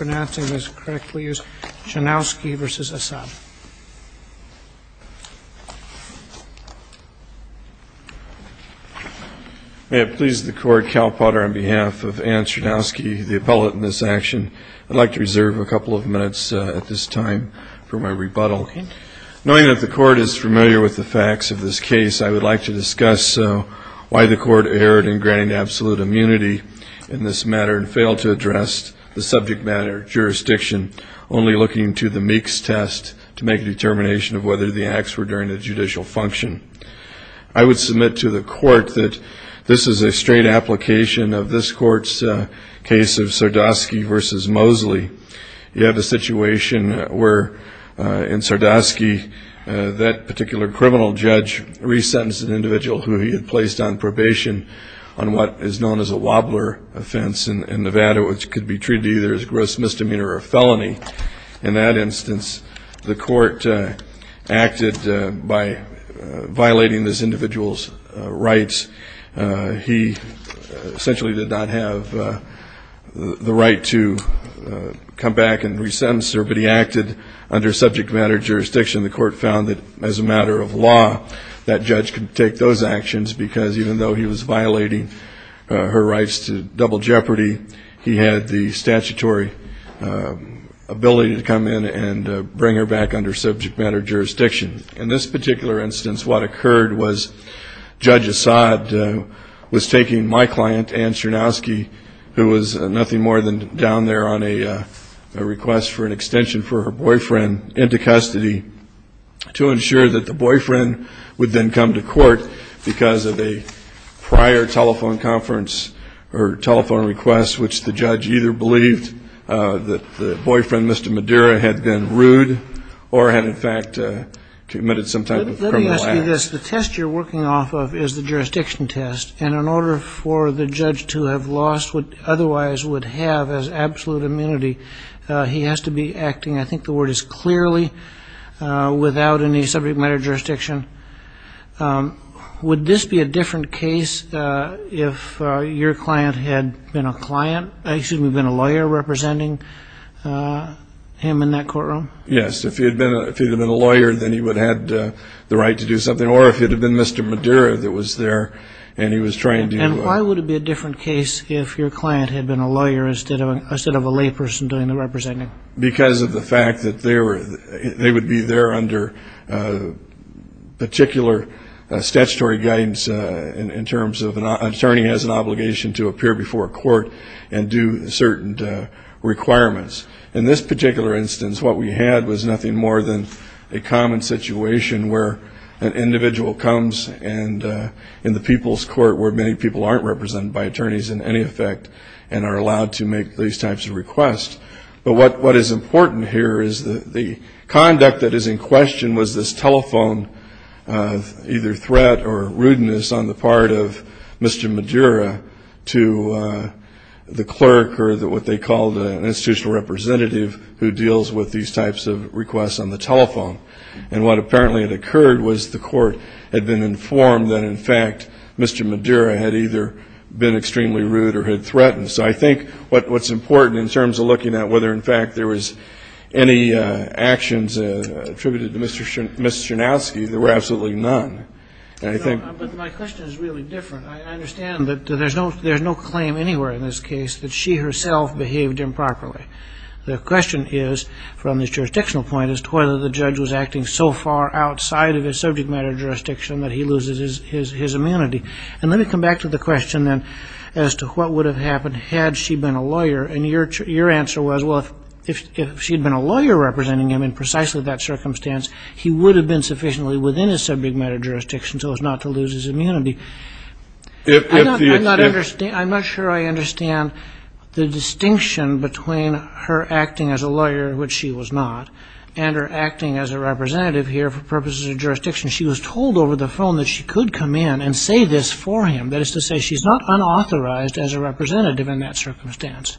I would like to reserve a couple of minutes at this time for my rebuttal. Knowing that the Court is familiar with the facts of this case, I would like to discuss why the Court erred in granting absolute immunity in this matter and failed to address the subject matter of jurisdiction, only looking to the Meeks test to make a determination of whether the acts were during a judicial function. I would submit to the Court that this is a straight application of this Court's case of Sardoski v. Mosley. You have a situation where in Sardoski that particular criminal judge resentenced an individual who he had placed on probation on what is known as a wobbler offense in Nevada, which could be this misdemeanor or felony. In that instance, the Court acted by violating this individual's rights. He essentially did not have the right to come back and resentence her, but he acted under subject matter jurisdiction. The Court found that as a matter of law, that judge could take those actions because even though he was violating her rights to double jeopardy, he had the statutory ability to come in and bring her back under subject matter jurisdiction. In this particular instance, what occurred was Judge Asad was taking my client, Ann Sernowski, who was nothing more than down there on a request for an extension for her boyfriend into custody to ensure that the boyfriend would then come to court because of a prior telephone conference or telephone request, which the judge either believed that the boyfriend, Mr. Madera, had been rude or had, in fact, committed some type of criminal act. Let me ask you this. The test you're working off of is the jurisdiction test, and in order for the judge to have lost what otherwise would have as absolute immunity, he has to be acting, I think the word is clearly, without any subject matter jurisdiction. Would this be a different case if your client had been a client, excuse me, been a lawyer representing him in that courtroom? Yes. If he had been a lawyer, then he would have had the right to do something, or if it had been Mr. Madera that was there and he was trying to... And why would it be a different case if your client had been a lawyer instead of a lay person doing the representing? Because of the fact that they would be there under particular statutory guidance in terms of an attorney has an obligation to appear before a court and do certain requirements. In this particular instance, what we had was nothing more than a common situation where an individual comes in the people's court where many people aren't represented by attorneys in any effect and are allowed to make these telephone either threat or rudeness on the part of Mr. Madera to the clerk or what they called an institutional representative who deals with these types of requests on the telephone. And what apparently had occurred was the court had been informed that in fact Mr. Madera had either been extremely rude or had threatened. So I think what's important in terms of looking at whether in fact there was any actions attributed to Ms. Schanowski, there were absolutely none. But my question is really different. I understand that there's no claim anywhere in this case that she herself behaved improperly. The question is, from the jurisdictional point, is whether the judge was acting so far outside of his subject matter jurisdiction that he loses his immunity. And let me come back to the question then as to what would have happened had she been a lawyer. And your answer was, well, if she had been a lawyer representing him in precisely that circumstance, he would have been sufficiently within his subject matter jurisdiction so as not to lose his immunity. I'm not sure I understand the distinction between her acting as a lawyer, which she was not, and her acting as a representative here for purposes of jurisdiction. She was told over the phone that she could come in and say this for him. That is to say she's not unauthorized as a representative in that circumstance.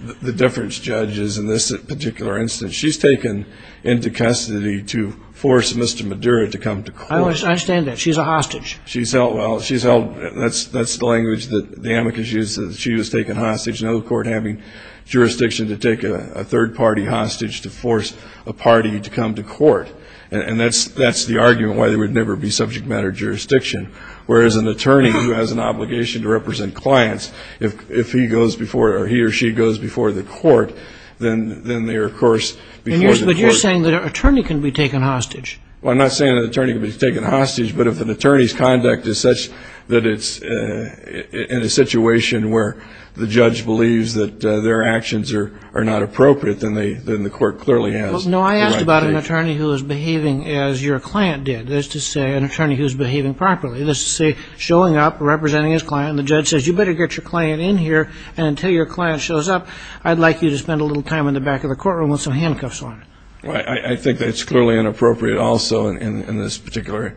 The difference, Judge, is in this particular instance, she's taken into custody to force Mr. Maduro to come to court. I understand that. She's a hostage. She's held – well, she's held – that's the language that the amicus uses. She was taken hostage, no court having jurisdiction to take a third-party hostage to force a party to come to court. And that's the argument why there would never be subject matter jurisdiction, whereas an attorney who has an obligation to represent clients, if he goes before – or he or she goes before the court, then they are, of course, before the court. But you're saying that an attorney can be taken hostage. Well, I'm not saying that an attorney can be taken hostage, but if an attorney's conduct is such that it's in a situation where the judge believes that their actions are not appropriate, then the court clearly has the right to take – No, I asked about an attorney who is behaving as your client did, that is to say an attorney who's behaving properly. That's to say, showing up, representing his client, and the judge says, you better get your client in here, and until your client shows up, I'd like you to spend a little time in the back of the courtroom with some handcuffs on. I think that's clearly inappropriate also in this particular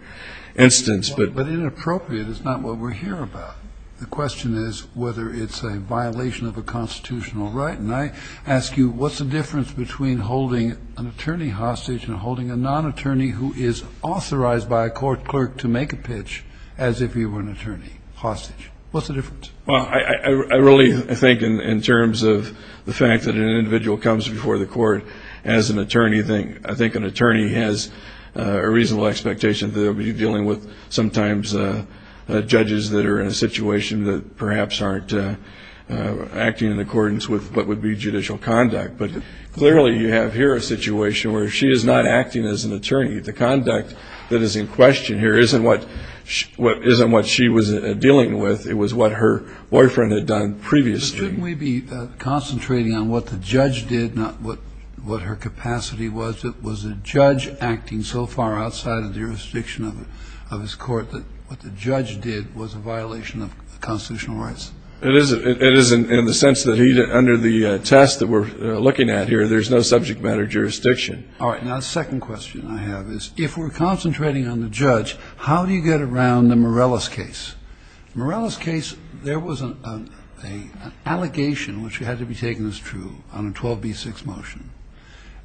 instance, but – But inappropriate is not what we're here about. The question is whether it's a violation of a constitutional right. And I ask you, what's the difference between holding an to make a pitch as if you were an attorney, hostage? What's the difference? Well, I really think in terms of the fact that an individual comes before the court as an attorney, I think an attorney has a reasonable expectation that they'll be dealing with sometimes judges that are in a situation that perhaps aren't acting in accordance with what would be judicial conduct. But clearly, you have here a situation where she is not acting as an attorney. The conduct that is in question here isn't what she was dealing with. It was what her boyfriend had done previously. But shouldn't we be concentrating on what the judge did, not what her capacity was? It was a judge acting so far outside of the jurisdiction of his court that what the judge did was a violation of constitutional rights. It is. It is in the sense that under the test that we're looking at here, there's no subject matter jurisdiction. All right. Now, the second question I have is, if we're concentrating on the judge, how do you get around the Morellis case? The Morellis case, there was an allegation which had to be taken as true on a 12b6 motion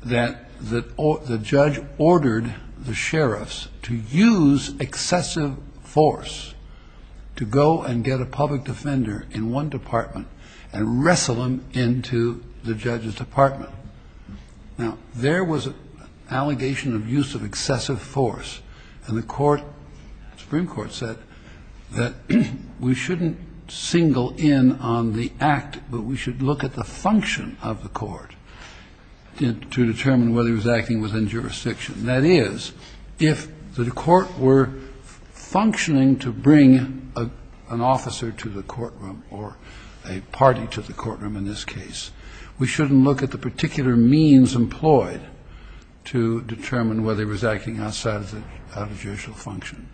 that the judge ordered the sheriffs to use excessive force to go and get a public defender in one department and wrestle him into the judge's department. Now, there was an allegation of use of excessive force. And the Supreme Court said that we shouldn't single in on the act, but we should look at the function of the court to determine whether he was acting within jurisdiction. That is, if the court were functioning to bring an officer to the courtroom or a party to the courtroom in this case, we shouldn't look at the particular means employed to determine whether he was acting outside of judicial function.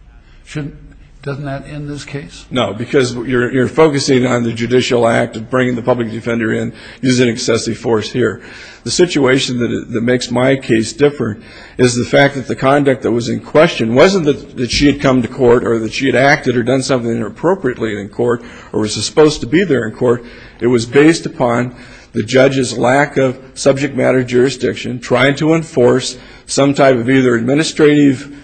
Doesn't that end this case? No, because you're focusing on the judicial act of bringing the public defender in using excessive force here. The situation that makes my case different is the fact that the conduct that was in question wasn't that she had come to court or that she had acted or done something inappropriately in court or was supposed to be there in court. It was based upon the judge's lack of subject matter jurisdiction, trying to enforce some type of either administrative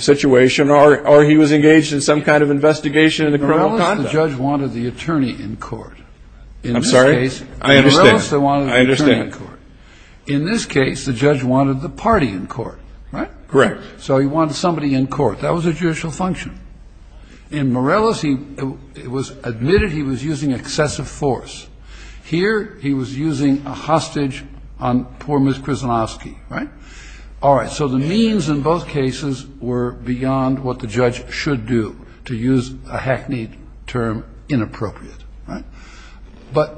situation or he was engaged in some kind of investigation of the criminal conduct. Morelis, the judge, wanted the attorney in court. I'm sorry? I understand. Morelis, they wanted the attorney in court. In this case, the judge wanted the party in court, right? Correct. So he wanted somebody in court. That was a judicial function. In Morelis, it was admitted he was using excessive force. Here, he was using a hostage on poor Ms. Krasinovsky, right? All right. So the means in both cases were beyond what the judge should do, to use a hackneyed term, inappropriate, right? But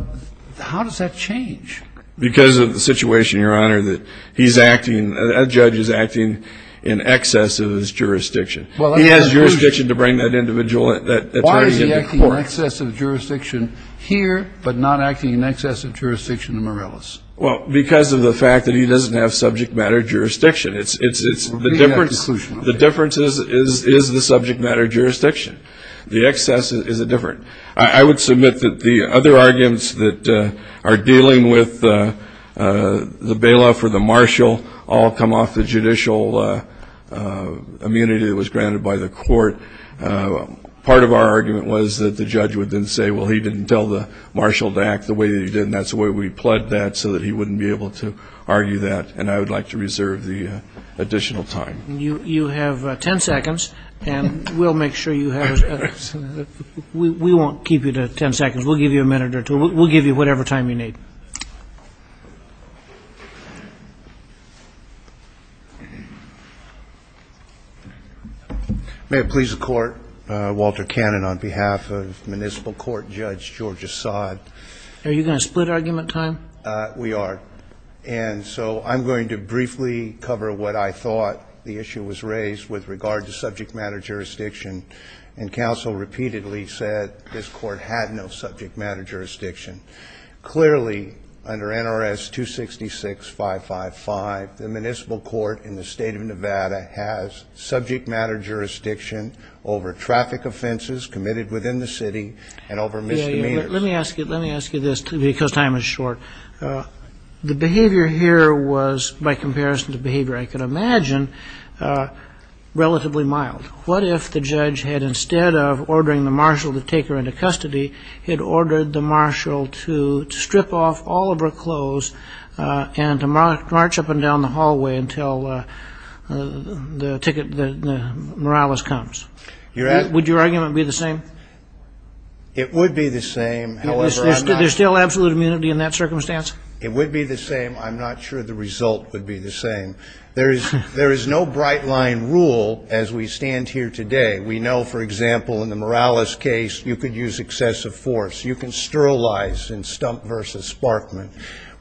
how does that change? Because of the situation, Your Honor, that he's acting, a judge is acting in excess of his jurisdiction. He has jurisdiction to bring that individual, that attorney, into court. Why is he acting in excess of jurisdiction here, but not acting in excess of jurisdiction in Morelis? Well, because of the fact that he doesn't have subject matter jurisdiction. It's the difference is the subject matter jurisdiction. The excess is a different. I would submit that the other arguments that are dealing with the bailout for the court, part of our argument was that the judge would then say, well, he didn't tell the marshal to act the way he did and that's the way we plied that so that he wouldn't be able to argue that, and I would like to reserve the additional time. You have 10 seconds, and we'll make sure you have it. We won't keep you to 10 seconds. We'll give you a minute or two. We'll give you whatever time you need. May it please the court, Walter Cannon on behalf of Municipal Court Judge George Asad. Are you going to split argument time? We are, and so I'm going to briefly cover what I thought the issue was raised with regard to subject matter jurisdiction, and counsel repeatedly said this court had no subject matter jurisdiction. Clearly, under NRS 266-555, the Municipal Court in the state of Nevada has subject matter jurisdiction over traffic offenses committed within the city and over misdemeanors. Let me ask you this, because time is short. The behavior here was, by comparison to behavior I could imagine, relatively mild. What if the judge had, instead of ordering the marshal to take her into custody, had ordered the marshal to strip off all of her clothes and to march up and down the hallway until the ticket, Morales, comes? Would your argument be the same? It would be the same. There's still absolute immunity in that circumstance? It would be the same. I'm not sure the result would be the same. There is no bright line rule as we stand here today. We know, for example, in the Morales case, you could use excessive force. You can sterilize in Stump v. Sparkman.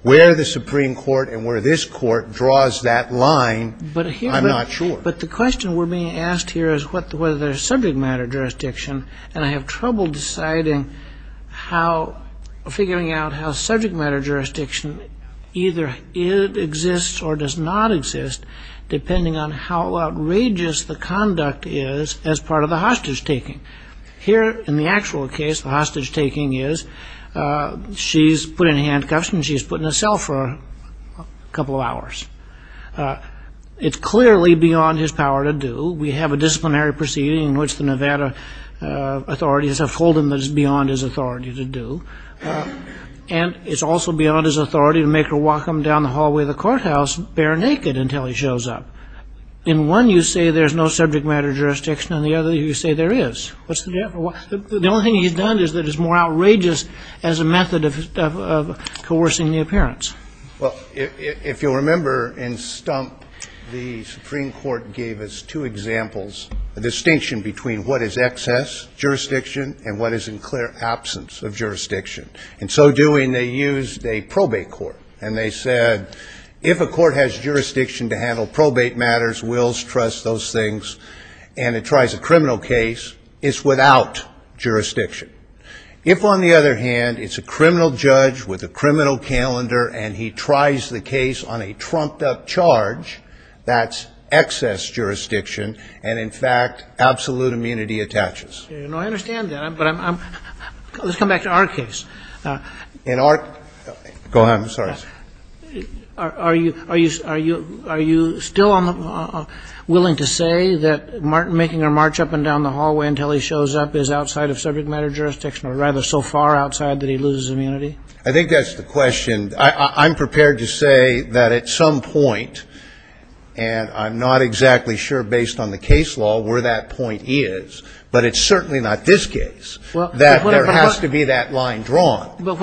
Where the Supreme Court and where this court draws that line, I'm not sure. But the question we're being asked here is whether there's subject matter jurisdiction, and I have trouble deciding how, figuring out how subject matter jurisdiction either exists or does not exist, depending on how outrageous the part of the hostage-taking. Here, in the actual case, the hostage-taking is, she's put in handcuffs, and she's put in a cell for a couple of hours. It's clearly beyond his power to do. We have a disciplinary proceeding in which the Nevada authorities have told him that it's beyond his authority to do. And it's also beyond his authority to make her walk him down the hallway of the courthouse bare naked until he shows up. In one, you say there's no subject matter jurisdiction. In the other, you say there is. What's the difference? The only thing he's done is that it's more outrageous as a method of coercing the appearance. Well, if you'll remember, in Stump, the Supreme Court gave us two examples, a distinction between what is excess jurisdiction and what is in clear absence of jurisdiction. In so doing, they used a probate court. And they said, if a court has jurisdiction to handle probate matters, wills, trusts, those things, and it tries a criminal case, it's without jurisdiction. If, on the other hand, it's a criminal judge with a criminal calendar, and he tries the case on a trumped-up charge, that's excess jurisdiction. And in fact, absolute immunity attaches. No, I understand that, but I'm, let's come back to our case. In our, go ahead, I'm sorry. Are you, are you, are you, are you still on the, willing to say that Martin making a march up and down the hallway until he shows up is outside of subject matter jurisdiction, or rather so far outside that he loses immunity? I think that's the question. I, I, I'm prepared to say that at some point, and I'm not exactly sure based on the case law where that point is, but it's certainly not this case, that there But what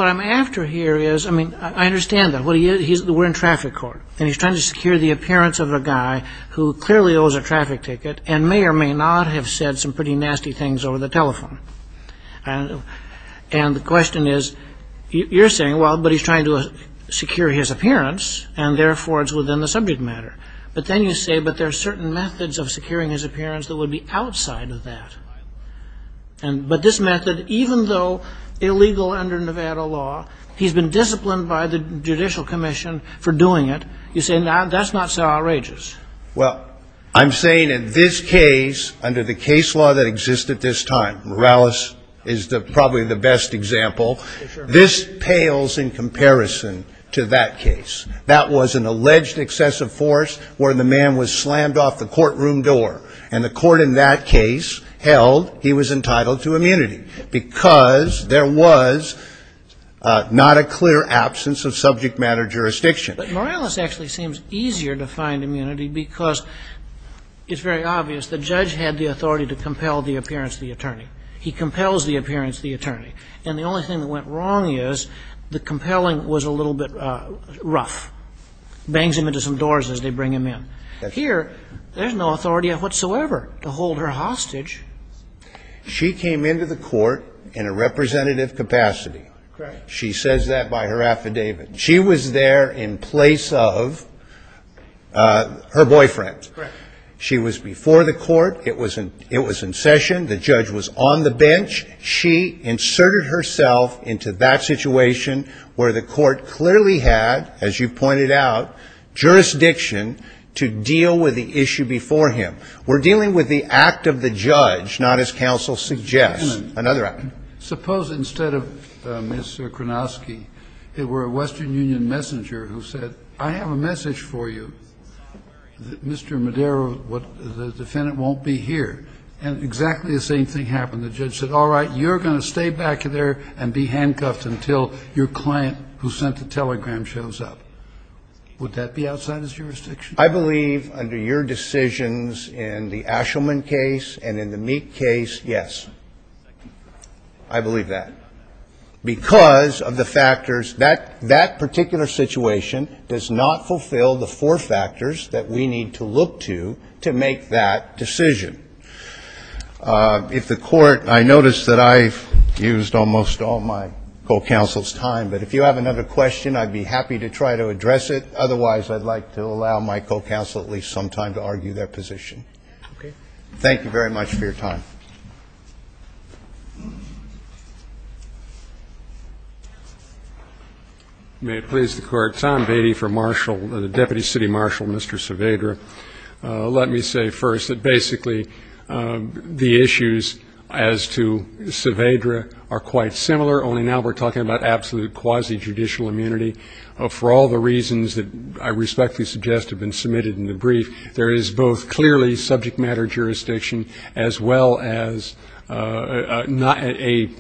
I'm after here is, I mean, I, I understand that. What he is, he's, we're in traffic court, and he's trying to secure the appearance of a guy who clearly owes a traffic ticket, and may or may not have said some pretty nasty things over the telephone. And, and the question is, you, you're saying, well, but he's trying to secure his appearance, and therefore it's within the subject matter. But then you say, but there are certain methods of securing his appearance that would be outside of that. And, but this method, even though illegal under Nevada law, he's been disciplined by the judicial commission for doing it. You say, now, that's not so outrageous. Well, I'm saying in this case, under the case law that exists at this time, Morales is the, probably the best example. This pales in comparison to that case. That was an alleged excessive force where the man was slammed off the courtroom door, and the court in that case held he was entitled to immunity because there was not a clear absence of subject matter jurisdiction. But Morales actually seems easier to find immunity because it's very obvious the judge had the authority to compel the appearance of the attorney. He compels the appearance of the attorney. And the only thing that went wrong is the compelling was a little bit rough. Bangs him into some doors as they bring him in. Here, there's no authority whatsoever to hold her hostage. She came into the court in a representative capacity. She says that by her affidavit. She was there in place of her boyfriend. She was before the court. It was in session. The judge was on the bench. She inserted herself into that situation where the court clearly had, as you pointed out, jurisdiction to deal with the issue before him. We're dealing with the act of the judge, not as counsel suggests. Another act. Suppose instead of Ms. Kronosky, it were a Western Union messenger who said, I have a message for you, Mr. Madero, the defendant won't be here. And exactly the same thing happened. The judge said, all right, you're going to stay back there and be handcuffed until your client who sent the telegram shows up. Would that be outside his jurisdiction? I believe under your decisions in the Ashelman case and in the Meek case, yes. I believe that. Because of the factors, that particular situation does not fulfill the four factors that we need to look to to make that decision. If the court, I noticed that I've used almost all my co-counsel's time. But if you have another question, I'd be happy to try to address it. Otherwise, I'd like to allow my co-counsel at least some time to argue their position. Thank you very much for your time. May it please the court. Tom Beatty for Marshall, the Deputy City Marshal, Mr. Saavedra. Let me say first that basically, the issues as to Saavedra are quite similar, only now we're talking about absolute quasi-judicial immunity. For all the reasons that I respectfully suggest have been submitted in the brief, there is both clearly subject matter jurisdiction, as well as not a,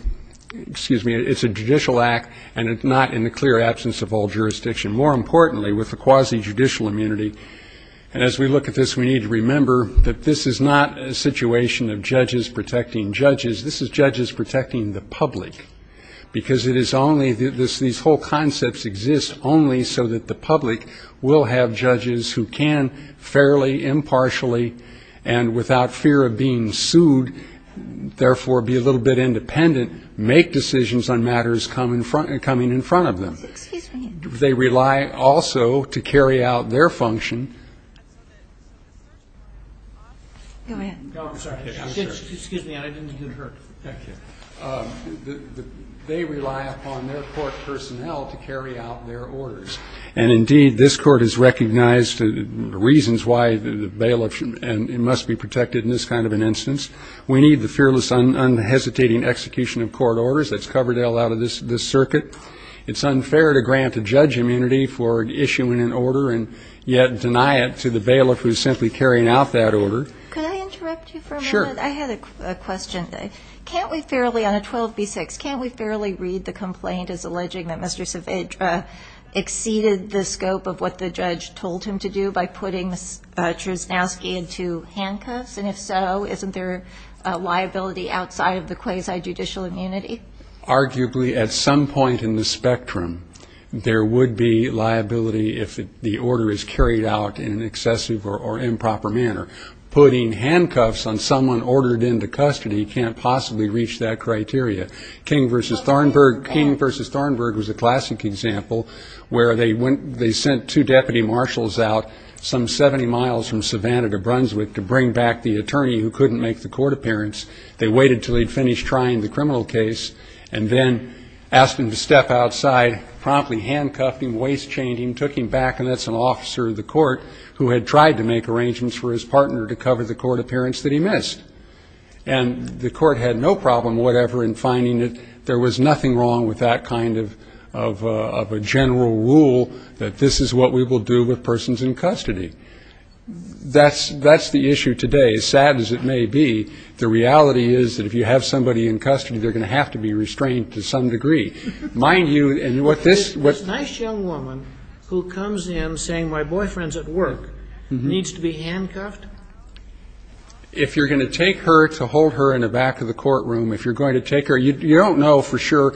excuse me, it's a judicial act, and it's not in the clear absence of all jurisdiction. More importantly, with the quasi-judicial immunity, and as we look at this, we need to remember that this is not a situation of judges protecting judges. This is judges protecting the public. Because it is only, these whole concepts exist only so that the public will have judges who can fairly, impartially, and without fear of being sued, therefore be a little bit independent, make decisions on matters coming in front of them. Excuse me. They rely also to carry out their function. Go ahead. No, I'm sorry. Excuse me, I didn't hear. Thank you. They rely upon their court personnel to carry out their orders. And indeed, this court has recognized the reasons why the bail option, and it must be protected in this kind of an instance. We need the fearless, unhesitating execution of court orders. That's covered all out of this circuit. It's unfair to grant a judge immunity for issuing an order and yet deny it to the bailiff who's simply carrying out that order. Could I interrupt you for a moment? Sure. I had a question. Can't we fairly, on a 12B6, can't we fairly read the complaint as alleging that Mr. Savedra exceeded the scope of what the judge told him to do by putting Chresnowski into handcuffs? And if so, isn't there a liability outside of the quasi-judicial immunity? Arguably, at some point in the spectrum, there would be liability if the order is carried out in an excessive or improper manner. Putting handcuffs on someone ordered into custody can't possibly reach that criteria. King v. Thornburg was a classic example where they sent two deputy marshals out some 70 miles from Savannah to Brunswick to bring back the attorney who couldn't make the court appearance. They waited until he'd finished trying the criminal case and then asked him to step outside, promptly handcuffed him, waist chained him, took him back, and that's an officer of the court who had tried to make arrangements for his partner to cover the court appearance that he missed. And the court had no problem whatever in finding that there was nothing wrong with that kind of a general rule that this is what we will do with persons in custody. That's the issue today. As sad as it may be, the reality is that if you have somebody in custody, they're going to have to be restrained to some degree. Mind you, and what this- This nice young woman who comes in saying my boyfriend's at work needs to be handcuffed? If you're going to take her to hold her in the back of the courtroom, if you're going to take her, you don't know for sure.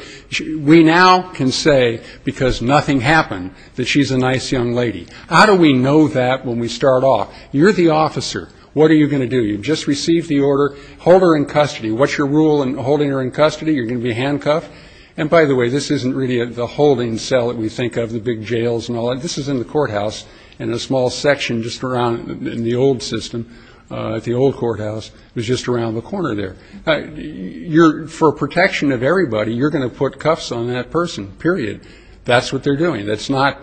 We now can say, because nothing happened, that she's a nice young lady. How do we know that when we start off? You're the officer. What are you going to do? You've just received the order. Hold her in custody. What's your rule in holding her in custody? You're going to be handcuffed? And by the way, this isn't really the holding cell that we think of, the big jails and all that. This is in the courthouse, in a small section just around, in the old system, at the old courthouse, it was just around the corner there. For protection of everybody, you're going to put cuffs on that person, period. That's what they're doing. That's not,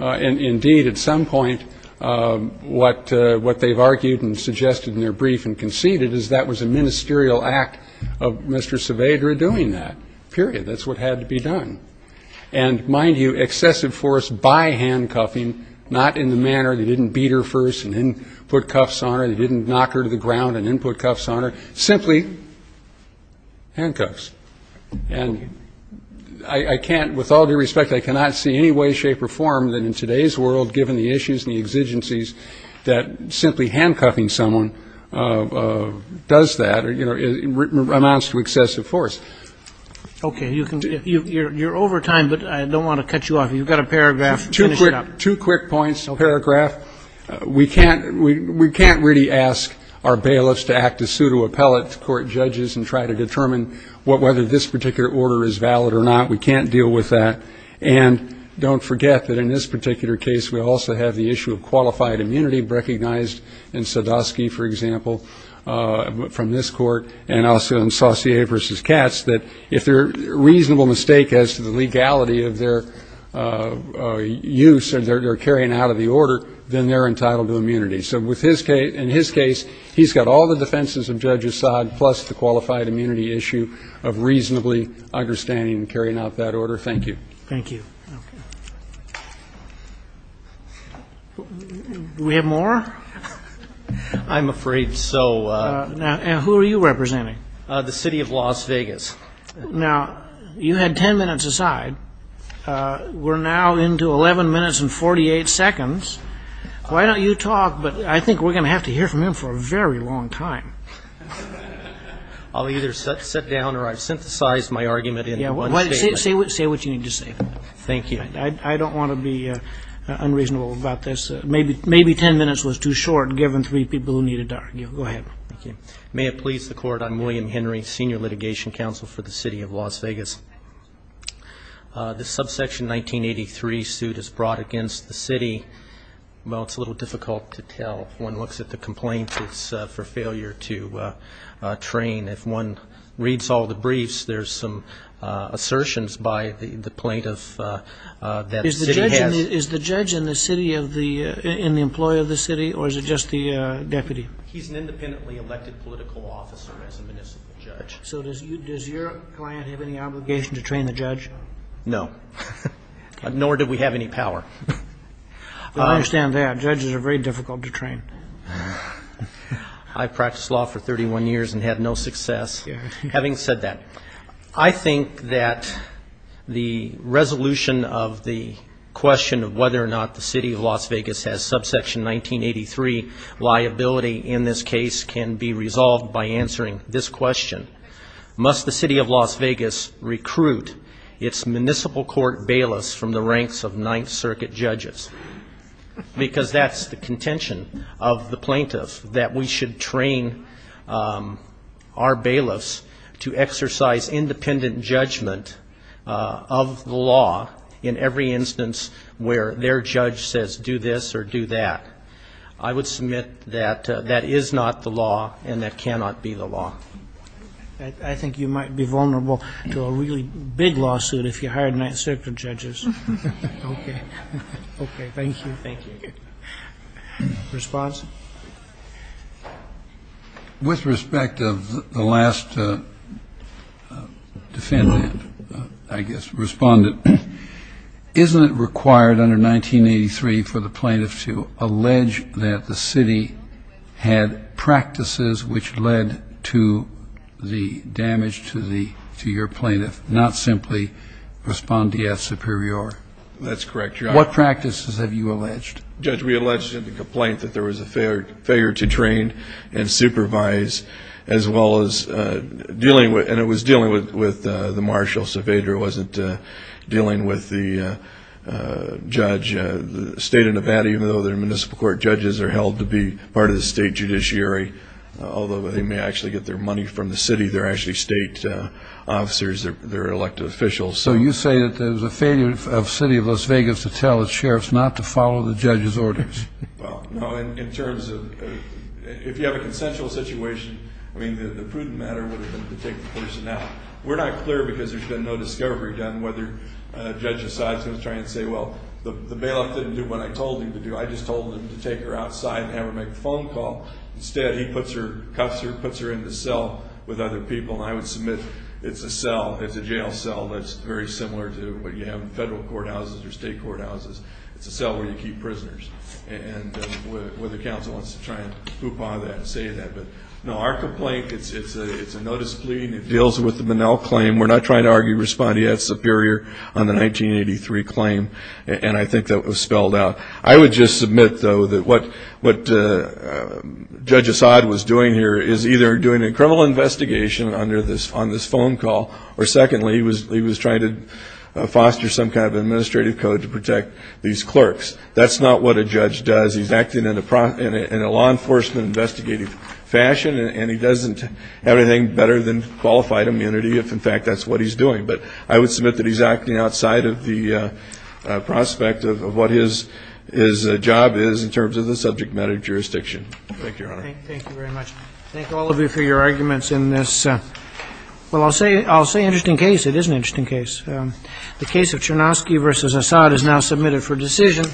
indeed, at some point, what they've argued and suggested in their brief and conceded, is that was a ministerial act of Mr. Saavedra doing that, period. That's what had to be done. And mind you, excessive force by handcuffing, not in the manner, they didn't beat her first and then put cuffs on her, they didn't knock her to the ground and then put cuffs on her, simply handcuffs. And I can't, with all due respect, I cannot see any way, shape, or form that in today's world, given the issues and the exigencies, that simply handcuffing someone does that, or amounts to excessive force. OK, you're over time, but I don't want to cut you off. You've got a paragraph. Two quick points, paragraph. We can't really ask our bailiffs to act as pseudo-appellate court judges and try to determine whether this particular order is valid or not. We can't deal with that. And don't forget that in this particular case, we also have the issue of qualified immunity recognized in Sadowski, for example, from this court, and also in Saussure versus Katz, that if they're a reasonable mistake as to the legality of their use, or they're carrying out of the order, then they're entitled to immunity. So in his case, he's got all the defenses of Judge Assad, plus the qualified immunity issue of reasonably understanding and carrying out that order. Thank you. Thank you. Do we have more? I'm afraid so. And who are you representing? The city of Las Vegas. Now, you had 10 minutes aside. We're now into 11 minutes and 48 seconds. Why don't you talk? But I think we're going to have to hear from him for a very long time. I'll either sit down or I've synthesized my argument in one statement. Say what you need to say. Thank you. I don't want to be unreasonable about this. Maybe 10 minutes was too short, given three people who needed to argue. Go ahead. May it please the Court, I'm William Henry, Senior Litigation Counsel for the City of Las Vegas. The subsection 1983 suit is brought against the city. Well, it's a little difficult to tell. One looks at the complaint, it's for failure to train. If one reads all the briefs, there's some assertions by the plaintiff that the city has. Is the judge in the city of the, in the employee of the city, or is it just the deputy? He's an independently elected political officer as a municipal judge. So does your client have any obligation to train the judge? No, nor do we have any power. I understand that. Judges are very difficult to train. I practiced law for 31 years and had no success. Having said that, I think that the resolution of the question of whether or not the city of Las Vegas has subsection 1983 liability in this case can be resolved by answering this question. Must the city of Las Vegas recruit its municipal court bailiffs from the ranks of Ninth Circuit judges? Because that's the contention of the plaintiff, that we should train our bailiffs to exercise independent judgment of the law in every instance where their judge says do this or do that. I would submit that that is not the law and that cannot be the law. I think you might be vulnerable to a really big lawsuit if you hired Ninth Circuit judges. Okay. Okay, thank you. Thank you. Response? With respect of the last defendant, I guess, respondent, isn't it required under 1983 for the plaintiff to allege that the city had practices which led to the damage to your plaintiff, not simply respondee at superior? That's correct, Your Honor. What practices have you alleged? Judge, we alleged in the complaint that there was a failure to train and supervise as well as dealing with, and it was dealing with the marshal, so Vader wasn't dealing with the judge. The state of Nevada, even though their municipal court judges are held to be part of the state judiciary, although they may actually get their money from the city, they're actually state officers, they're elected officials. So you say that there was a failure of the city of Las Vegas to tell its sheriffs not to follow the judge's orders. Well, no, in terms of, if you have a consensual situation, I mean, the prudent matter would have been to take the person out. We're not clear because there's been no discovery done whether Judge Assange was trying to say, well, the bailiff didn't do what I told him to do, I just told him to take her outside and have her make the phone call. Instead, he puts her, cuffs her, puts her in the cell with other people, and I would submit it's a cell, it's a jail cell that's very similar to what you have in federal courthouses or state courthouses. It's a cell where you keep prisoners, and where the council wants to try and pooh-pah that and say that, but no, our complaint, it's a notice pleading that deals with the Minnell claim. We're not trying to argue or respond to that, it's superior on the 1983 claim, and I think that was spelled out. I would just submit, though, that what Judge Assange was doing here is either doing a criminal investigation on this phone call, or secondly, he was trying to foster some kind of administrative code to protect these clerks. That's not what a judge does. He's acting in a law enforcement investigative fashion, and he doesn't have anything better than qualified immunity if, in fact, that's what he's doing. But I would submit that he's acting outside of the prospect of what his job is in terms of the subject matter jurisdiction. Thank you, Your Honor. Thank you very much. Thank all of you for your arguments in this, well, I'll say an interesting case. It is an interesting case. The case of Chernovsky versus Assad is now submitted for decision.